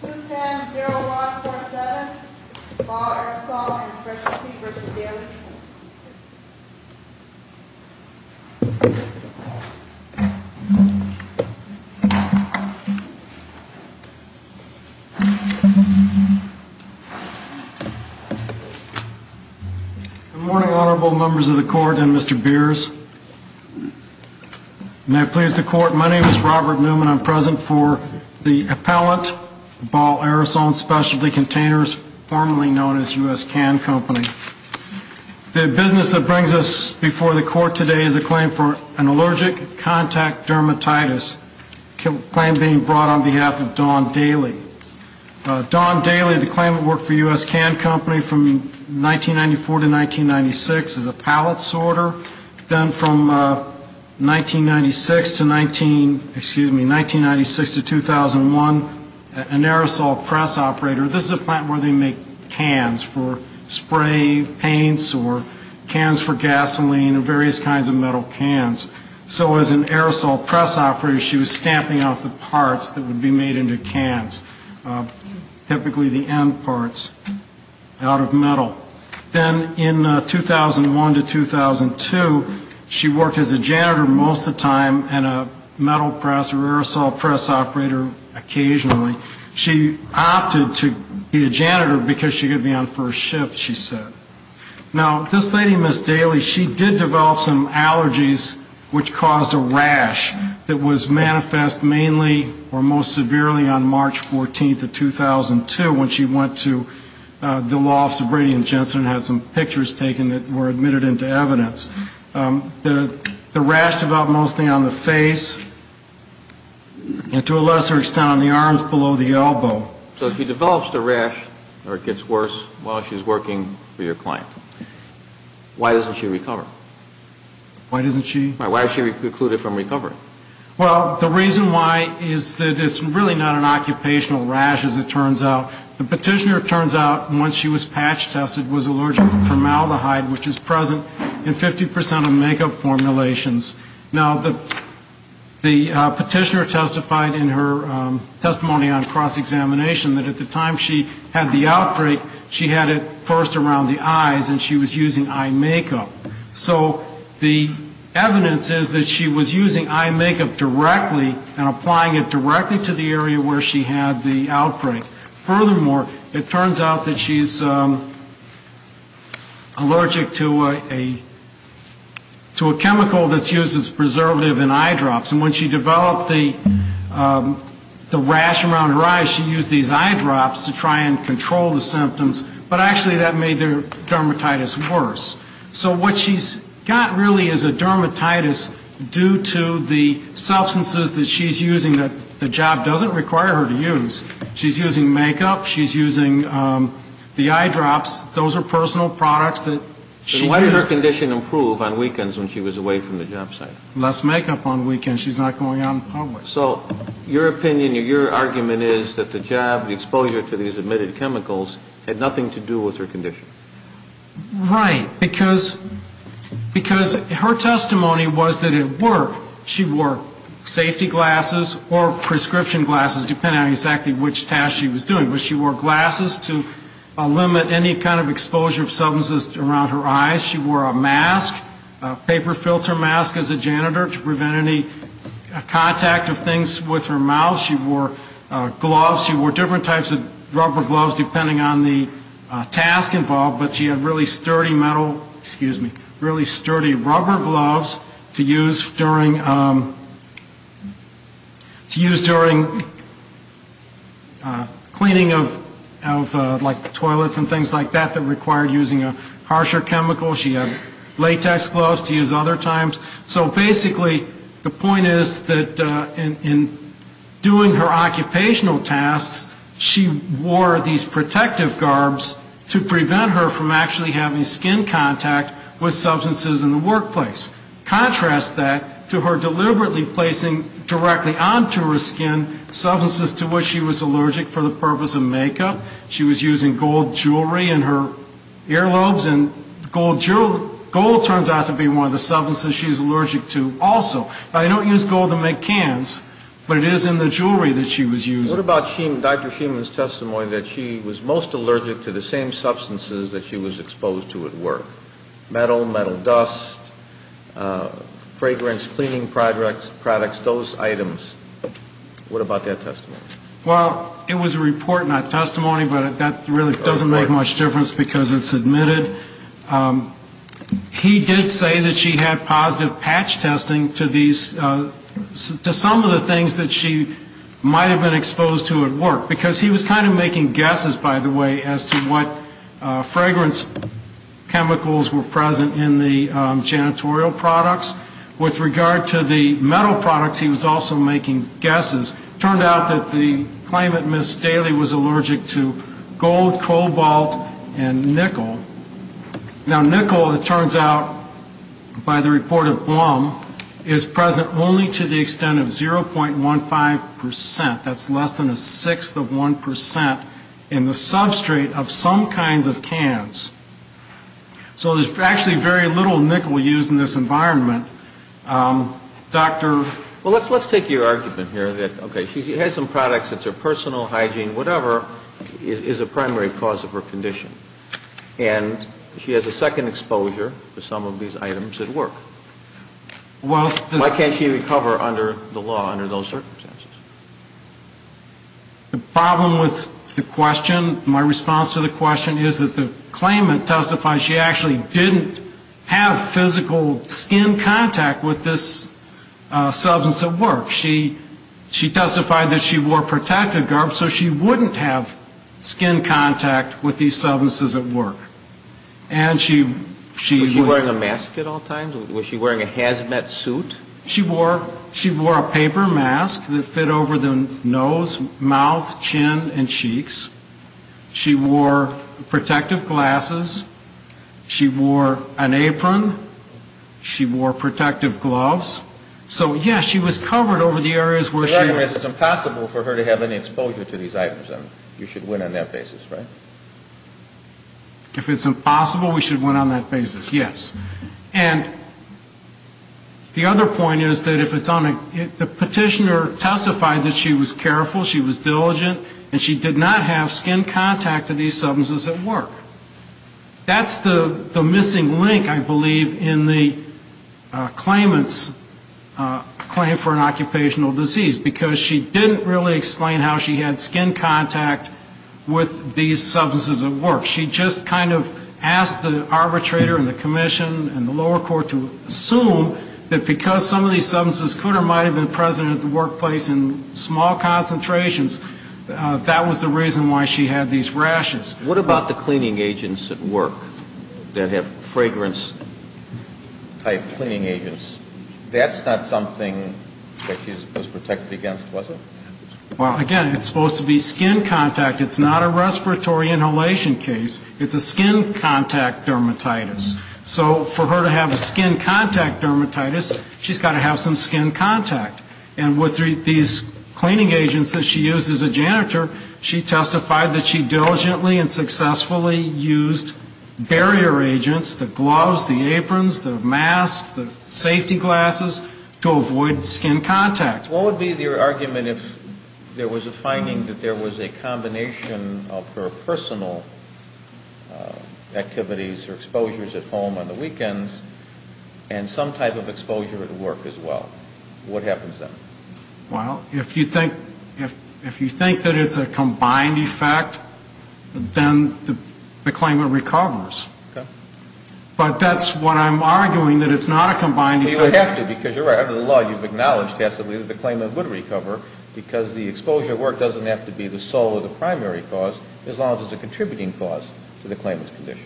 210-0147, Law Aerosol and Specialty v. Daly Good morning, Honorable Members of the Court and Mr. Beers. And I please the Court, my name is Robert Newman. I'm present for the appellant, Ball Aerosol and Specialty Containers, formerly known as U.S. Can Company. The business that brings us before the Court today is a claim for an allergic contact dermatitis, a claim being brought on behalf of Don Daly. Don Daly, the claimant worked for U.S. Can Company from 1994 to 1996 as a pallet sorter. Then from 1996 to 19, excuse me, 1996 to 2001, an aerosol press operator. This is a plant where they make cans for spray paints or cans for gasoline or various kinds of metal cans. So as an aerosol press operator, she was stamping out the parts that would be made into cans, typically the end parts out of metal. Then in 2001 to 2002, she worked as a janitor most of the time and a metal press or aerosol press operator occasionally. She opted to be a janitor because she could be on first shift, she said. Now, this lady, Ms. Daly, she did develop some allergies which caused a rash that was manifest mainly or most severely on March 14th of 2002 when she went to the Law Office of Brady and Johnson. I had some pictures taken that were admitted into evidence. The rash developed mostly on the face and to a lesser extent on the arms below the elbow. So she develops the rash or it gets worse while she's working for your client. Why doesn't she recover? Why doesn't she? Why is she excluded from recovery? Well, the reason why is that it's really not an occupational rash, as it turns out. The petitioner, it turns out, once she was patch tested, was allergic to formaldehyde, which is present in 50% of makeup formulations. Now, the petitioner testified in her testimony on cross-examination that at the time she had the outbreak, she had it first around the eyes and she was using eye makeup. So the evidence is that she was using eye makeup directly and applying it directly to the area where she had the outbreak. Furthermore, it turns out that she's allergic to a chemical that's used as preservative in eye drops. And when she developed the rash around her eyes, she used these eye drops to try and control the symptoms. But actually that made the dermatitis worse. So what she's got really is a dermatitis due to the substances that she's using that the job doesn't require her to use. She's using makeup. She's using the eye drops. Those are personal products that she uses. And her condition improved on weekends when she was away from the job site. Less makeup on weekends. She's not going out in public. So your opinion, your argument is that the job, the exposure to these emitted chemicals, had nothing to do with her condition. Right. Because her testimony was that it worked. She wore safety glasses or prescription glasses, depending on exactly which task she was doing. But she wore glasses to limit any kind of exposure of substances around her eyes. She wore a mask, a paper filter mask as a janitor to prevent any contact of things with her mouth. She wore gloves. She wore different types of rubber gloves depending on the task involved. But she had really sturdy metal, excuse me, really sturdy rubber gloves to use during cleaning of like toilets and things like that that required using a harsher chemical. She had latex gloves to use other times. So basically the point is that in doing her occupational tasks, she wore these protective garbs to prevent her from actually having skin contact with substances in the workplace. Contrast that to her deliberately placing directly onto her skin substances to which she was allergic for the purpose of makeup. She was using gold jewelry in her earlobes. And gold turns out to be one of the substances she's allergic to also. Now, they don't use gold to make cans, but it is in the jewelry that she was using. What about Dr. Sheiman's testimony that she was most allergic to the same substances that she was exposed to at work? Metal, metal dust, fragrance, cleaning products, those items. What about that testimony? Well, it was a report, not testimony, but that really doesn't make much difference because it's admitted. He did say that she had positive patch testing to these, to some of the things that she might have been exposed to at work. Because he was kind of making guesses, by the way, as to what fragrance chemicals were present in the janitorial products. With regard to the metal products, he was also making guesses. Turned out that the claimant, Ms. Daly, was allergic to gold, cobalt, and nickel. Now, nickel, it turns out, by the report of Blum, is present only to the extent of 0.15%. That's less than a sixth of 1% in the substrate of some kinds of cans. So there's actually very little nickel used in this environment. Dr. Well, let's take your argument here that, okay, she has some products that's her personal hygiene, whatever, is a primary cause of her condition. And she has a second exposure to some of these items at work. Why can't she recover under the law, under those circumstances? The problem with the question, my response to the question, is that the claimant testifies she actually didn't have physical skin contact with this substance at work. She testified that she wore protective garb, so she wouldn't have skin contact with these substances at work. And she was... Was she wearing a mask at all times? Was she wearing a hazmat suit? She wore a paper mask that fit over the nose, mouth, chin, and cheeks. She wore protective glasses. She wore an apron. She wore protective gloves. So, yes, she was covered over the areas where she... The argument is it's impossible for her to have any exposure to these items. You should win on that basis, right? If it's impossible, we should win on that basis, yes. And the other point is that if it's on a... The petitioner testified that she was careful, she was diligent, and she did not have skin contact with these substances at work. That's the missing link, I believe, in the claimant's claim for an occupational disease. Because she didn't really explain how she had skin contact with these substances at work. She just kind of asked the arbitrator and the commission and the lower court to assume that because some of these substances could or might have been present at the workplace in small concentrations, that was the reason why she had these rashes. What about the cleaning agents at work that have fragrance-type cleaning agents? That's not something that she was supposed to protect against, was it? Well, again, it's supposed to be skin contact. It's not a respiratory inhalation case. It's a skin contact dermatitis. So for her to have a skin contact dermatitis, she's got to have some skin contact. And with these cleaning agents that she used as a janitor, she testified that she diligently and successfully used barrier agents, the gloves, the aprons, the masks, the safety glasses, to avoid skin contact. What would be your argument if there was a finding that there was a combination of her personal activities or exposures at home on the weekends and some type of exposure at work as well? What happens then? Well, if you think that it's a combined effect, then the claimant recovers. But that's what I'm arguing, that it's not a combined effect. Well, you have to, because you're right. Under the law, you've acknowledged passively that the claimant would recover, because the exposure at work doesn't have to be the sole or the primary cause, as long as it's a contributing cause to the claimant's condition.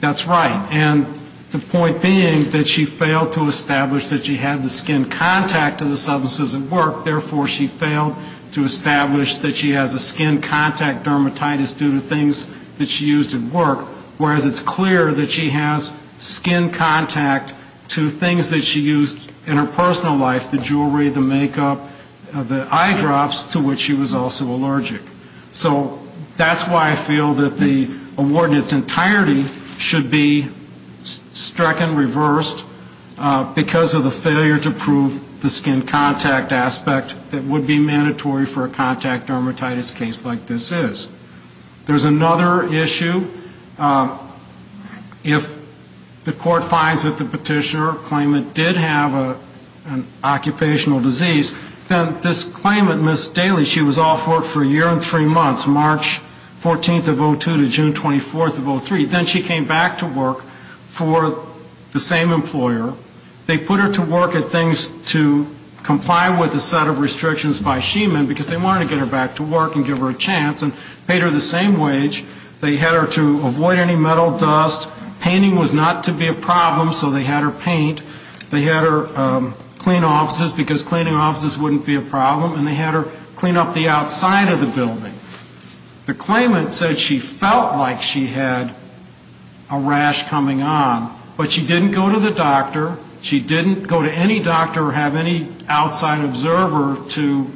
That's right. And the point being that she failed to establish that she had the skin contact to the substances at work. Therefore, she failed to establish that she has a skin contact dermatitis due to things that she used at work, whereas it's clear that she has skin contact to things that she used in her personal life, the jewelry, the makeup, the eye drops, to which she was also allergic. So that's why I feel that the award in its entirety should be struck and reversed, because of the failure to prove the skin contact aspect that would be mandatory for a contact dermatitis case like this is. There's another issue. If the court finds that the petitioner claimant did have an occupational disease, then this claimant, Ms. Daly, she was off work for a year and three months, March 14th of 02 to June 24th of 03. Then she came back to work for the same employer. They put her to work at things to comply with a set of restrictions by Sheiman, because they wanted to get her back to work and give her a chance. They paid her the same wage. They had her to avoid any metal dust. Painting was not to be a problem, so they had her paint. They had her clean offices, because cleaning offices wouldn't be a problem, and they had her clean up the outside of the building. The claimant said she felt like she had a rash coming on, but she didn't go to the doctor. She didn't go to any doctor or have any outside observer to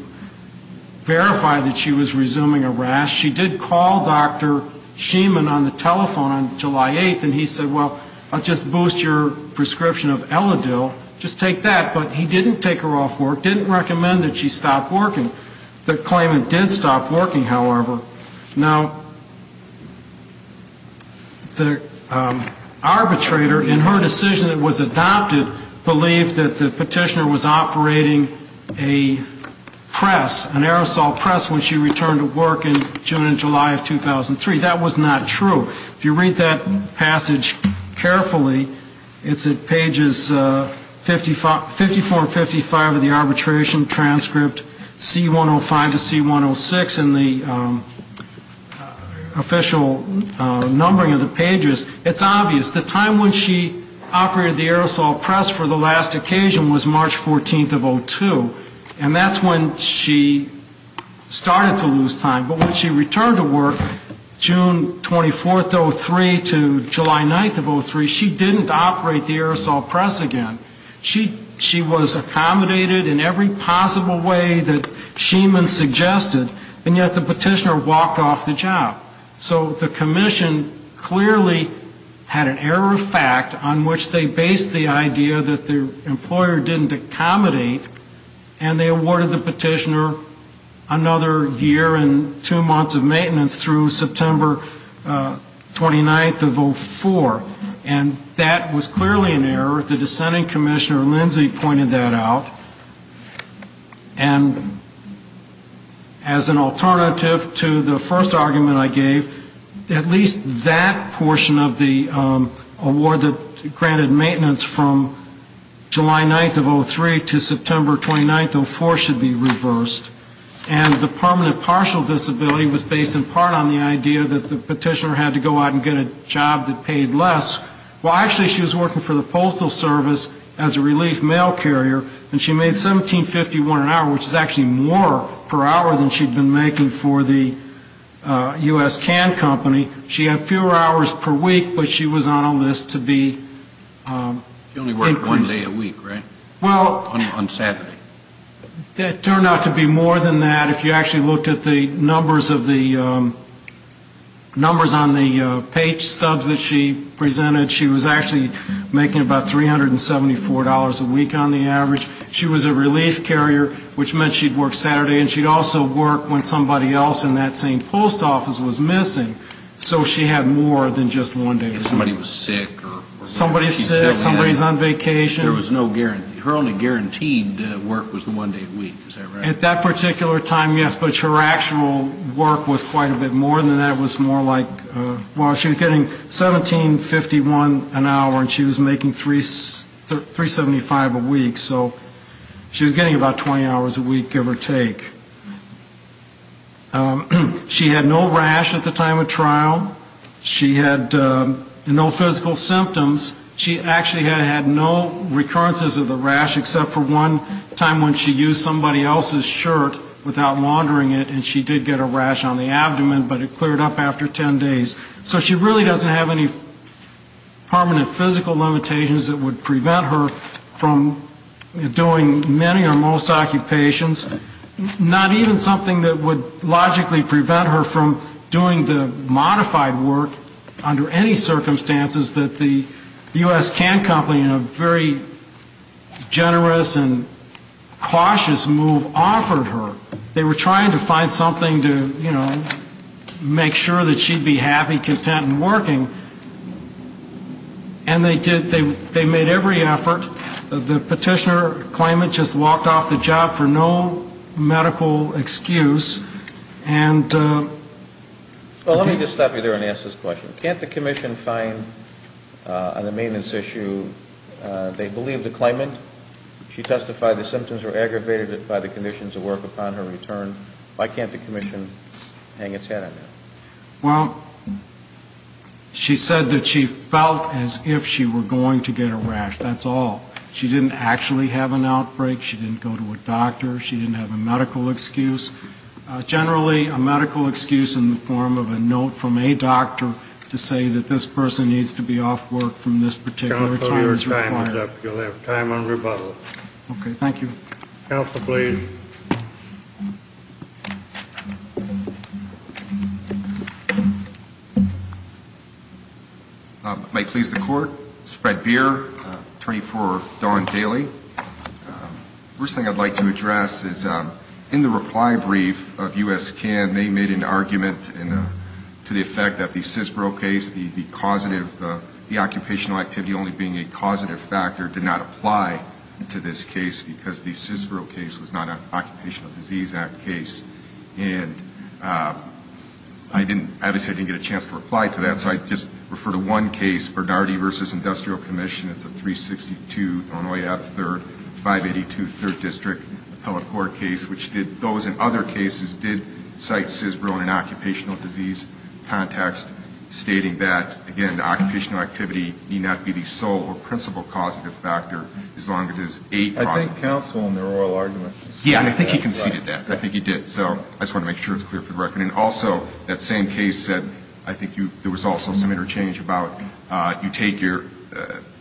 verify that she was resuming a rash. She did call Dr. Sheiman on the telephone on July 8th, and he said, well, I'll just boost your prescription of Eladil. Just take that, but he didn't take her off work, didn't recommend that she stop working. The claimant did stop working, however. Now, the arbitrator, in her decision that was adopted, believed that the petitioner was operating a press, an aerosol press when she returned to work in June and July of 2003. That was not true. If you read that passage carefully, it's at pages 54 and 55 of the arbitration transcript, C105 to C106 in the official numbering of the pages. It's obvious. The time when she operated the aerosol press for the last occasion was March 14th of 2002, and that's when she started to lose time. But when she returned to work, June 24th of 2003 to July 9th of 2003, she didn't operate the aerosol press again. She was accommodated in every possible way that Sheiman suggested, and yet the petitioner walked off the job. So the commission clearly had an error of fact on which they based the idea that the employer didn't accommodate, and they awarded the petitioner another year in prison. And that was clearly an error. The dissenting commissioner, Lindsay, pointed that out. And as an alternative to the first argument I gave, at least that portion of the award that granted maintenance from July 9th of 2003 to September 29th of 2004 should be reversed. And the permanent partial disability was based in part on the idea that the petitioner had to go out and get a job that paid less. Well, actually, she was working for the Postal Service as a relief mail carrier, and she made $17.51 an hour, which is actually more per hour than she'd been making for the U.S. Can Company. She had fewer hours per week, but she was on a list to be included. She only worked one day a week, right? On Saturday. Well, it turned out to be more than that. If you actually looked at the numbers of the numbers on the page stubs that she presented, she was actually making about $374 a week on the average. She was a relief carrier, which meant she'd work Saturday, and she'd also work when somebody else in that same post office was missing. So she had more than just one day a week. If somebody was sick. Somebody's sick, somebody's on vacation. There was no guarantee. Her only guaranteed work was the one day a week, is that right? At that particular time, yes, but her actual work was quite a bit more than that. It was more like, well, she was getting $17.51 an hour, and she was making $375 a week, so she was getting about 20 hours a week, give or take. She had no rash at the time of trial. She had no physical symptoms. She actually had no recurrences of the rash, except for one time when she used somebody else's shirt without laundering it, and she did get a rash on the abdomen, but it cleared up after 10 days. So she really doesn't have any permanent physical limitations that would prevent her from doing many or most occupations. Not even something that would logically prevent her from doing the modified work under any circumstances that the U.S. Can Company, in a very generous and cautious move, offered her. They were trying to find something to, you know, make sure that she'd be happy, content, and working. And they did. They made every effort. The petitioner claimant just walked off the job for no medical excuse, and... Well, let me just stop you there and ask this question. Can't the commission find on the maintenance issue they believe the claimant, she testified the symptoms were aggravated by the conditions of work upon her return, why can't the commission hang its head on that? Well, she said that she felt as if she were going to get a rash, that's all. She didn't actually have an outbreak, she didn't go to a doctor, she didn't have a medical excuse. Generally, a medical excuse in the form of a note from a doctor to say that this person needs to be off work from this particular time is required. Counsel, your time is up. You'll have time on rebuttal. Okay, thank you. Counsel, please. Might please the court. This is Fred Beer, attorney for Dawn Daly. First thing I would like to address is in the reply brief of U.S. CAM, they made an argument to the effect that the Sisbro case, the causative, the occupational activity only being a causative factor, did not apply to this case because the Sisbro case was not an Occupational Disease Act case. And I didn't, obviously I didn't get a chance to reply to that, so I'd just refer to one case, Bernardi v. Industrial Commission. It's a 362 Illinois Ave. 3rd, 582 3rd District, appellate court case, which did, those and other cases, did cite Sisbro in an occupational disease context, stating that, again, the occupational activity need not be the sole or principal causative factor as long as it is a causative factor. I think Counsel in the oral argument conceded that. Yeah, I think he conceded that. I think he did. So I just want to make sure it's clear for the record. And also, that same case said, I think there was also some interchange about you take your,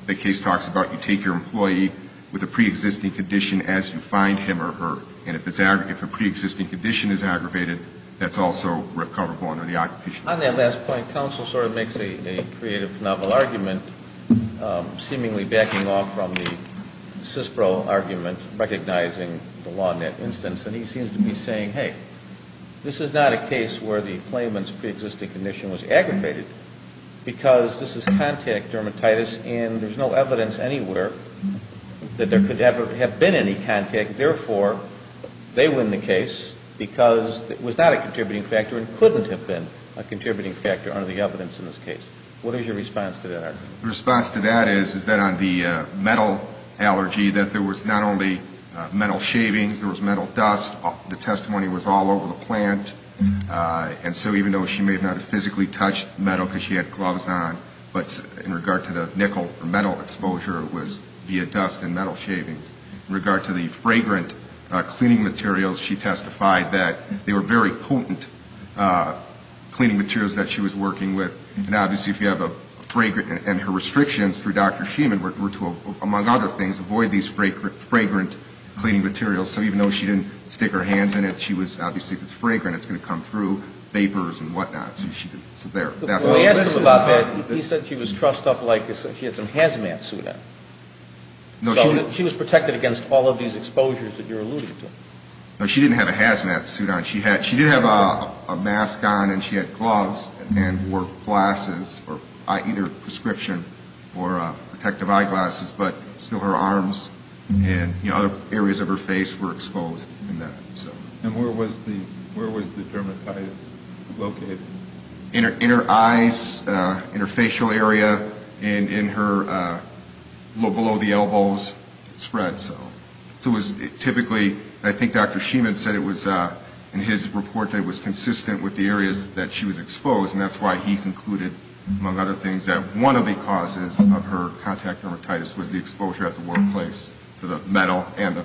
the case talks about you take your employee with a preexisting condition as you find him or her, and if a preexisting condition is aggravated, that's also recoverable under the occupational argument, recognizing the law in that instance. And he seems to be saying, hey, this is not a case where the claimant's preexisting condition was aggravated, because this is contact dermatitis and there's no evidence anywhere that there could ever have been any contact. Therefore, they win the case because it was not a contributing factor and couldn't have been a contributing factor under the evidence in this case. What is your response to that argument? The response to that is, is that on the metal allergy, that there was not only metal shavings, there was metal dust. The testimony was all over the plant. And so even though she may not have physically touched metal because she had gloves on, but in regard to the nickel or metal exposure, it was via dust and metal shavings. In regard to the fragrant cleaning materials, she testified that they were very potent cleaning materials that she was working with. And obviously, if you have a fragrant, and her restrictions through Dr. Schuman were to, among other things, avoid these fragrant cleaning materials. So even though she didn't stick her hands in it, she was, obviously, if it's fragrant, it's going to come through vapors and whatnot. So there. He said she was trussed up like she had some hazmat suit on. She was protected against all of these exposures that you're alluding to. She didn't have a hazmat suit on. She did have a mask on and she had gloves and wore glasses, either prescription or protective eyeglasses, but still her arms and other areas of her face were exposed. And where was the dermatitis located? In her eyes, in her facial area, and in her, below the elbows, it spread. So it was typically, I think Dr. Schuman said it was, in his report, that it was consistent with the areas that she was exposed. And that's why he concluded, among other things, that one of the causes of her contact dermatitis was the exposure at the workplace to the metal and the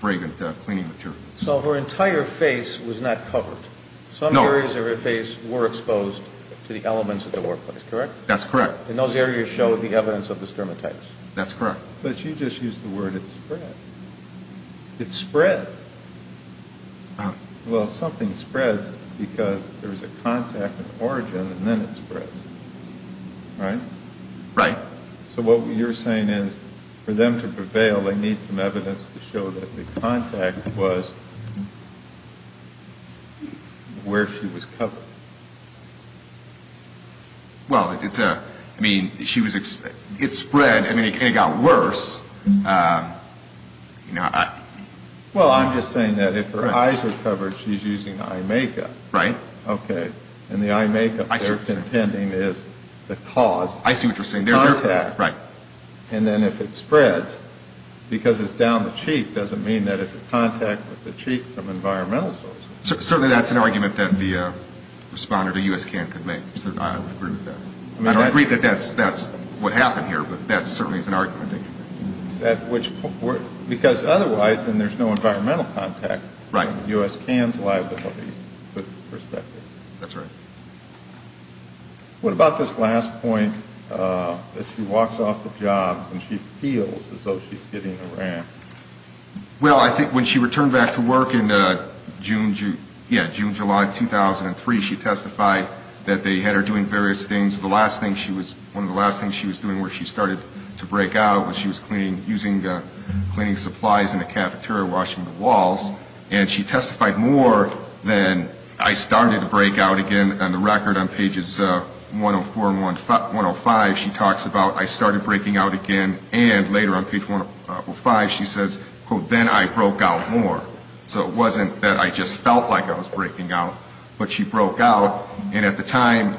fragrant cleaning material. So her entire face was not covered. No. And those areas of her face were exposed to the elements of the workplace, correct? That's correct. And those areas show the evidence of the dermatitis. That's correct. But you just used the word it spread. It spread. Well, something spreads because there's a contact of origin and then it spreads, right? Right. So what you're saying is for them to prevail, they need some evidence to show that the contact was where she was covered. Well, I mean, it spread and it got worse. Well, I'm just saying that if her eyes are covered, she's using eye makeup. Right. Okay. And the eye makeup they're contending is the cause. I see what you're saying. And then if it spreads, because it's down the cheek, doesn't mean that it's a contact with the cheek from environmental sources. Certainly that's an argument that the responder to U.S. CAN could make. I don't agree that that's what happened here, but that certainly is an argument. Because otherwise then there's no environmental contact. Right. And the U.S. CAN's liability, put in perspective. That's right. What about this last point that she walks off the job and she feels as though she's getting a ramp? Well, I think when she returned back to work in June, July 2003, she testified that they had her doing various things. One of the last things she was doing where she started to break out was she was cleaning supplies in the cafeteria, washing the walls. And she testified more than I started to break out again. On the record on pages 104 and 105 she talks about I started breaking out again. And later on page 105 she says, quote, then I broke out more. So it wasn't that I just felt like I was breaking out, but she broke out. And at the time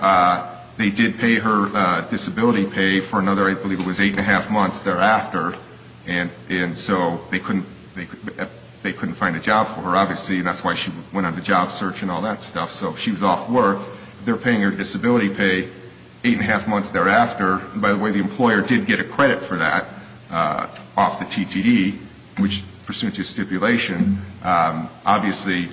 they did pay her disability pay for another, I believe it was eight and a half months thereafter. And so they couldn't find a job for her, obviously, and that's why she went on the job search and all that stuff. So if she was off work, they're paying her disability pay eight and a half months thereafter. And by the way, the employer did get a credit for that off the TTD, which pursuant to stipulation, obviously,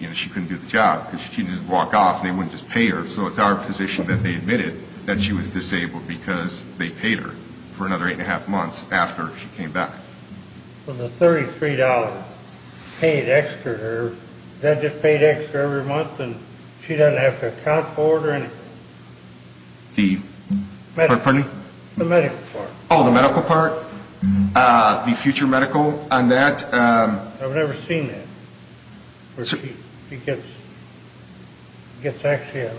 you know, she couldn't do the job. Because she didn't just walk off, they wouldn't just pay her. So it's our position that they admitted that she was disabled because they paid her for another eight and a half months after she came back. Well, the $33 paid extra to her, that just paid extra every month, and she doesn't have to account for it or anything. The medical part. Oh, the medical part, the future medical on that. I've never seen that, where she gets actually a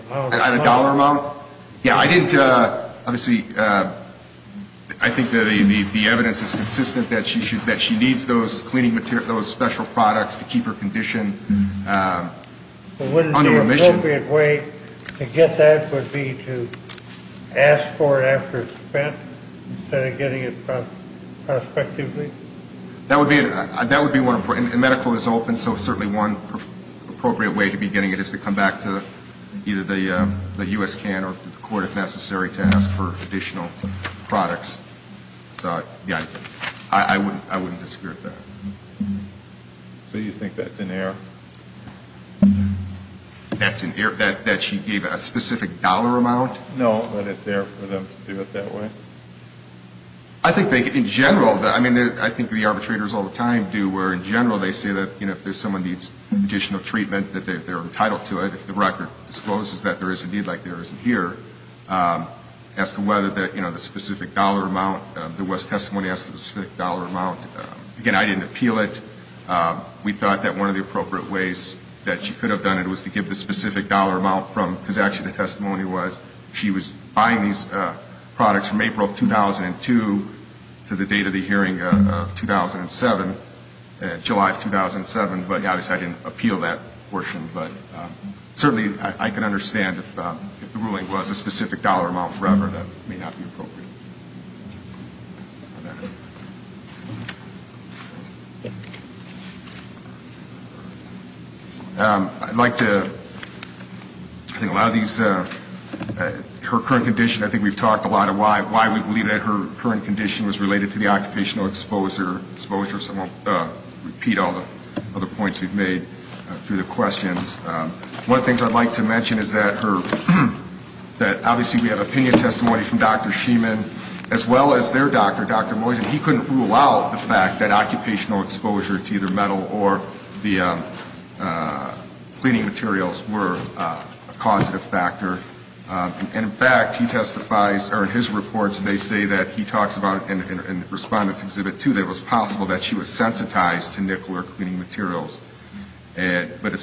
dollar amount. Yeah, I didn't, obviously, I think that the evidence is consistent that she needs those cleaning materials, those special products to keep her condition under remission. But wouldn't the appropriate way to get that would be to ask for it after it's spent instead of getting it prospectively? That would be one, and medical is open, so certainly one appropriate way to be getting it is to come back to either the U.S. can or the court if necessary to ask for additional products. So, yeah, I wouldn't disagree with that. So you think that's in error? That she gave a specific dollar amount? No, but it's there for them to do it that way. I think in general, I mean, I think the arbitrators all the time do where in general they say that if someone needs additional treatment, that they're entitled to it. If the record discloses that there is a need like there isn't here, as to whether the specific dollar amount, the West testimony asked for the specific dollar amount. Again, I didn't appeal it. We thought that one of the appropriate ways that she could have done it was to give the specific dollar amount from, because actually the testimony was she was buying these products from April of 2002 to the date of the hearing of 2007, July of 2007, but obviously I didn't appeal that portion. But certainly I can understand if the ruling was a specific dollar amount forever, that may not be appropriate. I'd like to, I think a lot of these, her current condition, I think we've talked a lot of why we believe that her current condition was related to the occupational exposure. So I won't repeat all the other points we've made through the questions. One of the things I'd like to mention is that her, that obviously we have opinion testimony from Dr. Schuman as well as their doctor, Dr. Moyes, and he couldn't rule out the fact that occupational exposure to either metal or the cleaning materials were a causative factor. And in fact, he testifies, or in his reports, they say that he talks about, in Respondent's Exhibit 2, that it was possible that she was sensitized to nickel or cleaning materials, but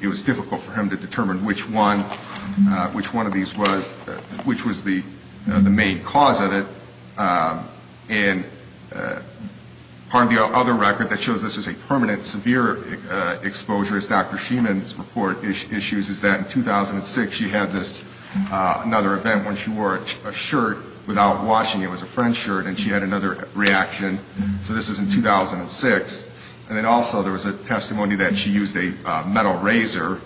it was difficult for him to determine which one of these was, which was the main cause of it. Part of the other record that shows this is a permanent severe exposure, as Dr. Schuman's report issues, is that in 2006 she had this, another event when she wore a shirt without washing it. It was a French shirt, and she had another reaction. So this is in 2006. And then also there was a testimony that she used a metal razor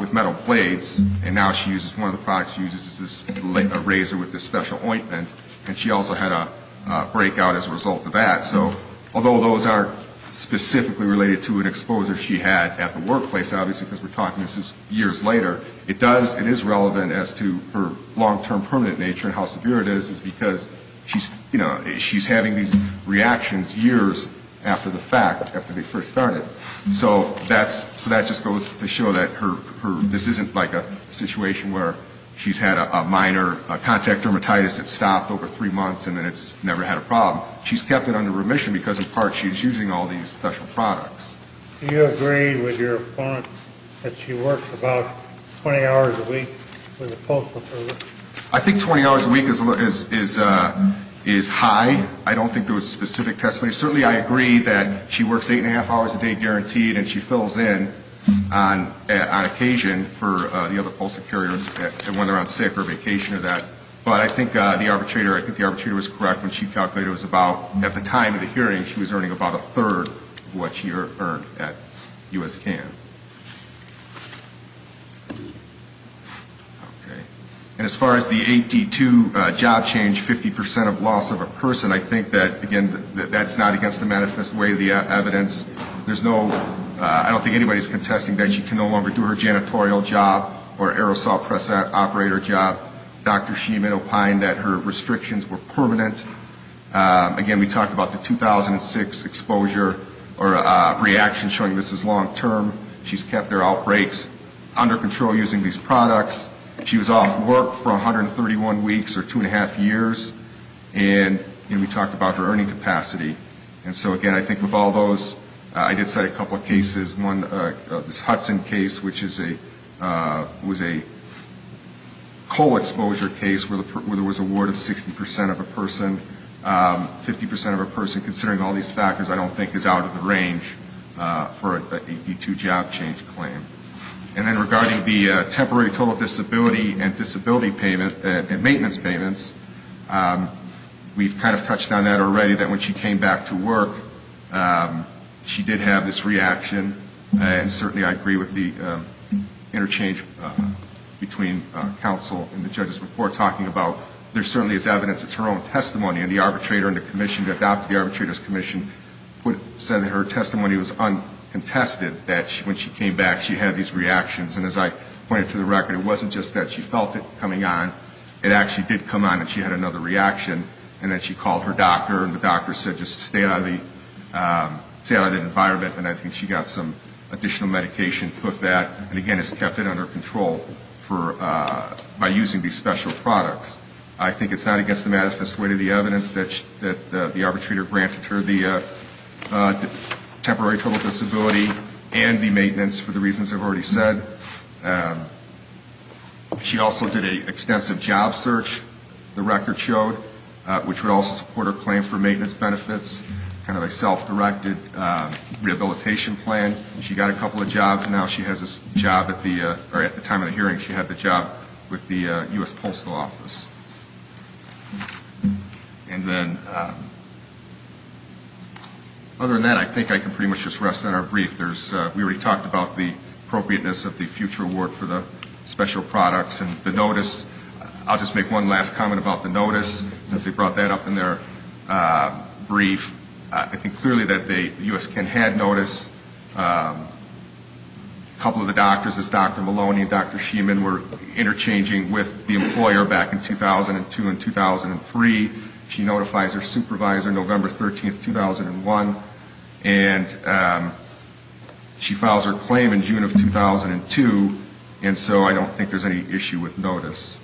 with metal blades, and now she uses, one of the products she uses is a razor with this special ointment, and she also had a breakout as a result of that. So although those aren't specifically related to an exposure she had at the workplace, obviously because we're talking this is years later, it does, it is relevant as to her long-term permanent nature and how severe it is because she's, you know, she's having these reactions years after the fact, after they first started. So that's, so that just goes to show that her, this isn't like a situation where she's had a minor contact dermatitis that stopped over three months and then it's never had a problem. She's kept it under remission because in part she's using all these special products. Do you agree with your opponent that she works about 20 hours a week with a postal service? I think 20 hours a week is high. I don't think there was a specific testimony. Certainly I agree that she works eight and a half hours a day guaranteed, and she fills in on occasion for the other postal carriers when they're on sick or vacation or that. But I think the arbitrator, I think the arbitrator was correct when she calculated it was about, at the time of the hearing she was earning about a third of what she earned at U.S. CAN. Okay. And as far as the 82 job change, 50% of loss of a person, I think that, again, that's not against the manifest way of the evidence. There's no, I don't think anybody's contesting that she can no longer do her janitorial job or aerosol press operator job. Dr. Sheeman opined that her restrictions were permanent. Again, we talked about the 2006 exposure or reaction showing this is long-term. She's kept her outbreaks under control using these products. She was off work for 131 weeks or two and a half years. And we talked about her earning capacity. And so, again, I think with all those, I did cite a couple of cases. This Hudson case, which was a co-exposure case where there was a ward of 60% of a person, 50% of a person, considering all these factors, I don't think is out of the range for an 82 job change claim. And then regarding the temporary total disability and disability payment and maintenance payments, we've kind of touched on that already, that when she came back to work, she did have this reaction, and certainly I agree with the interchange between counsel and the judge's report talking about there certainly is evidence, it's her own testimony, and the arbitrator and the commission that adopted the arbitrator's commission said that her testimony was uncontested, that when she came back she had these reactions. And as I pointed to the record, it wasn't just that she felt it coming on. It actually did come on that she had another reaction, and that she called her doctor and the doctor said just stay out of the environment, and I think she got some additional medication, took that, and again has kept it under control by using these special products. I think it's not against the manifest way to the evidence that the arbitrator granted her the temporary total disability and the maintenance for the reasons I've already said. She also did an extensive job search, the record showed, which would also support her claim for maintenance benefits, kind of a self-directed rehabilitation plan. She got a couple of jobs, and now she has a job at the time of the hearing, she had the job with the U.S. Postal Office. And then other than that, I think I can pretty much just rest on our brief. We already talked about the appropriateness of the future award for the special products, and the notice, I'll just make one last comment about the notice, since they brought that up in their brief. I think clearly that the U.S. can have notice, a couple of the doctors, this Dr. Maloney and Dr. Sheeman were interchanging with the employer back in 2002 and 2003. She notifies her supervisor November 13th, 2001, and she files her claim in June of 2002, and so I don't think there's any issue with notice.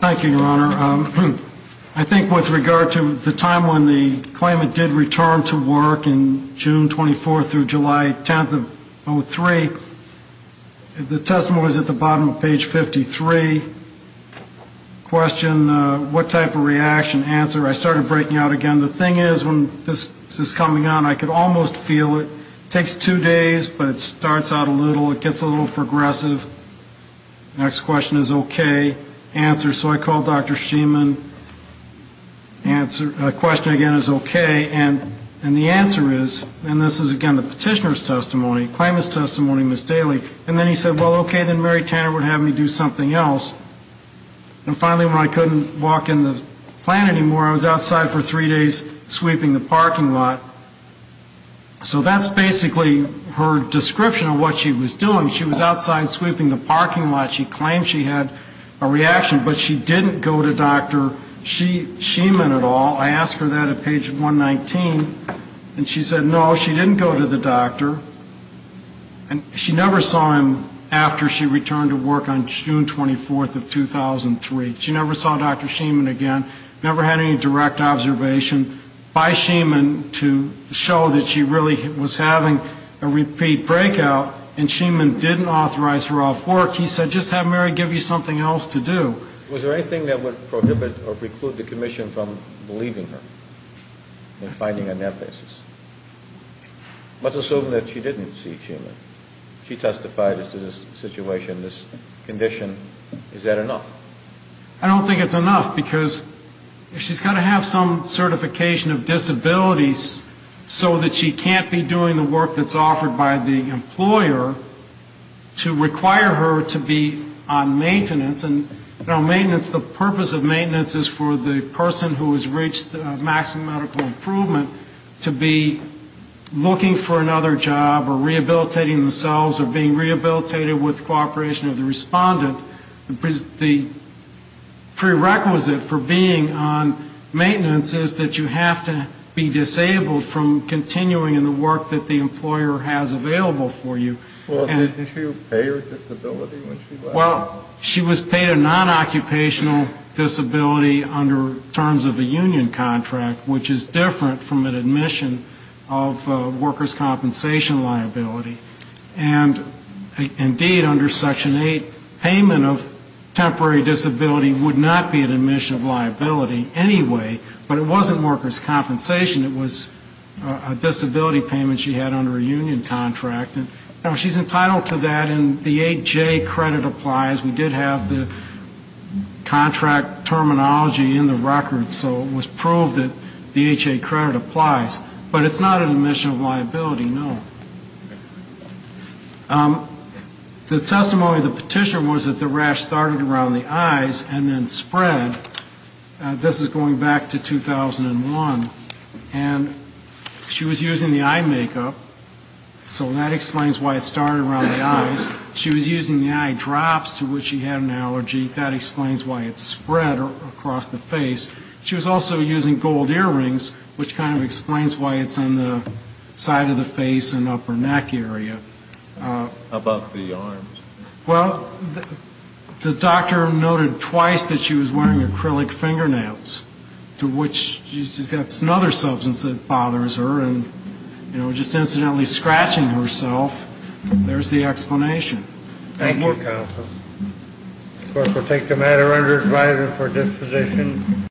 Thank you, Your Honor. I think with regard to the time when the claimant did return to work in June 24th through July 10th of 2003, the testimony was at the bottom of page 53. Question, what type of reaction? Answer, I started breaking out again. The thing is, when this is coming on, I could almost feel it. It takes two days, but it starts out a little, it gets a little progressive. Next question is okay. Answer, so I called Dr. Sheeman. Question again is okay, and the answer is, and this is again the petitioner's testimony, claimant's testimony, Ms. Daly, and then he said, well, okay, then Mary Tanner would have me do something else. And finally, when I couldn't walk in the plant anymore, I was outside for three days sweeping the parking lot. So that's basically her description of what she was doing. She was outside sweeping the parking lot. She claimed she had a reaction, but she didn't go to Dr. Sheeman at all. I asked her that at page 119, and she said no, she didn't go to the doctor. And she never saw him after she returned to work on June 24th of 2003. She never saw Dr. Sheeman again. Never had any direct observation by Sheeman to show that she really was having a repeat breakout, and Sheeman didn't authorize her off work. He said just have Mary give you something else to do. Was there anything that would prohibit or preclude the commission from believing her and finding on that basis? Let's assume that she didn't see Sheeman. She testified as to this situation, this condition. Is that enough? I don't think it's enough, because she's got to have some certification of disabilities so that she can't be doing the work that's offered by the employer to require her to be on maintenance. And on maintenance, the purpose of maintenance is for the person who has reached maximum medical improvement to be looking for another job or rehabilitating themselves or being rehabilitated with cooperation of the respondent. So the prerequisite for being on maintenance is that you have to be disabled from continuing in the work that the employer has available for you. Well, did she pay her disability when she left? Well, she was paid a non-occupational disability under terms of a union contract, which is different from an admission of workers' compensation liability. And, indeed, under Section 8, payment of temporary disability would not be an admission of liability anyway, but it wasn't workers' compensation. It was a disability payment she had under a union contract. And she's entitled to that, and the 8J credit applies. We did have the contract terminology in the record, so it was proved that the 8J credit applies. The testimony of the petitioner was that the rash started around the eyes and then spread. This is going back to 2001. And she was using the eye makeup, so that explains why it started around the eyes. She was using the eye drops to which she had an allergy. That explains why it spread across the face. She was also using gold earrings, which kind of explains why it's on the side of the face and upper neck area. About the arms. Well, the doctor noted twice that she was wearing acrylic fingernails, to which she's got another substance that bothers her, and, you know, just incidentally scratching herself. There's the explanation.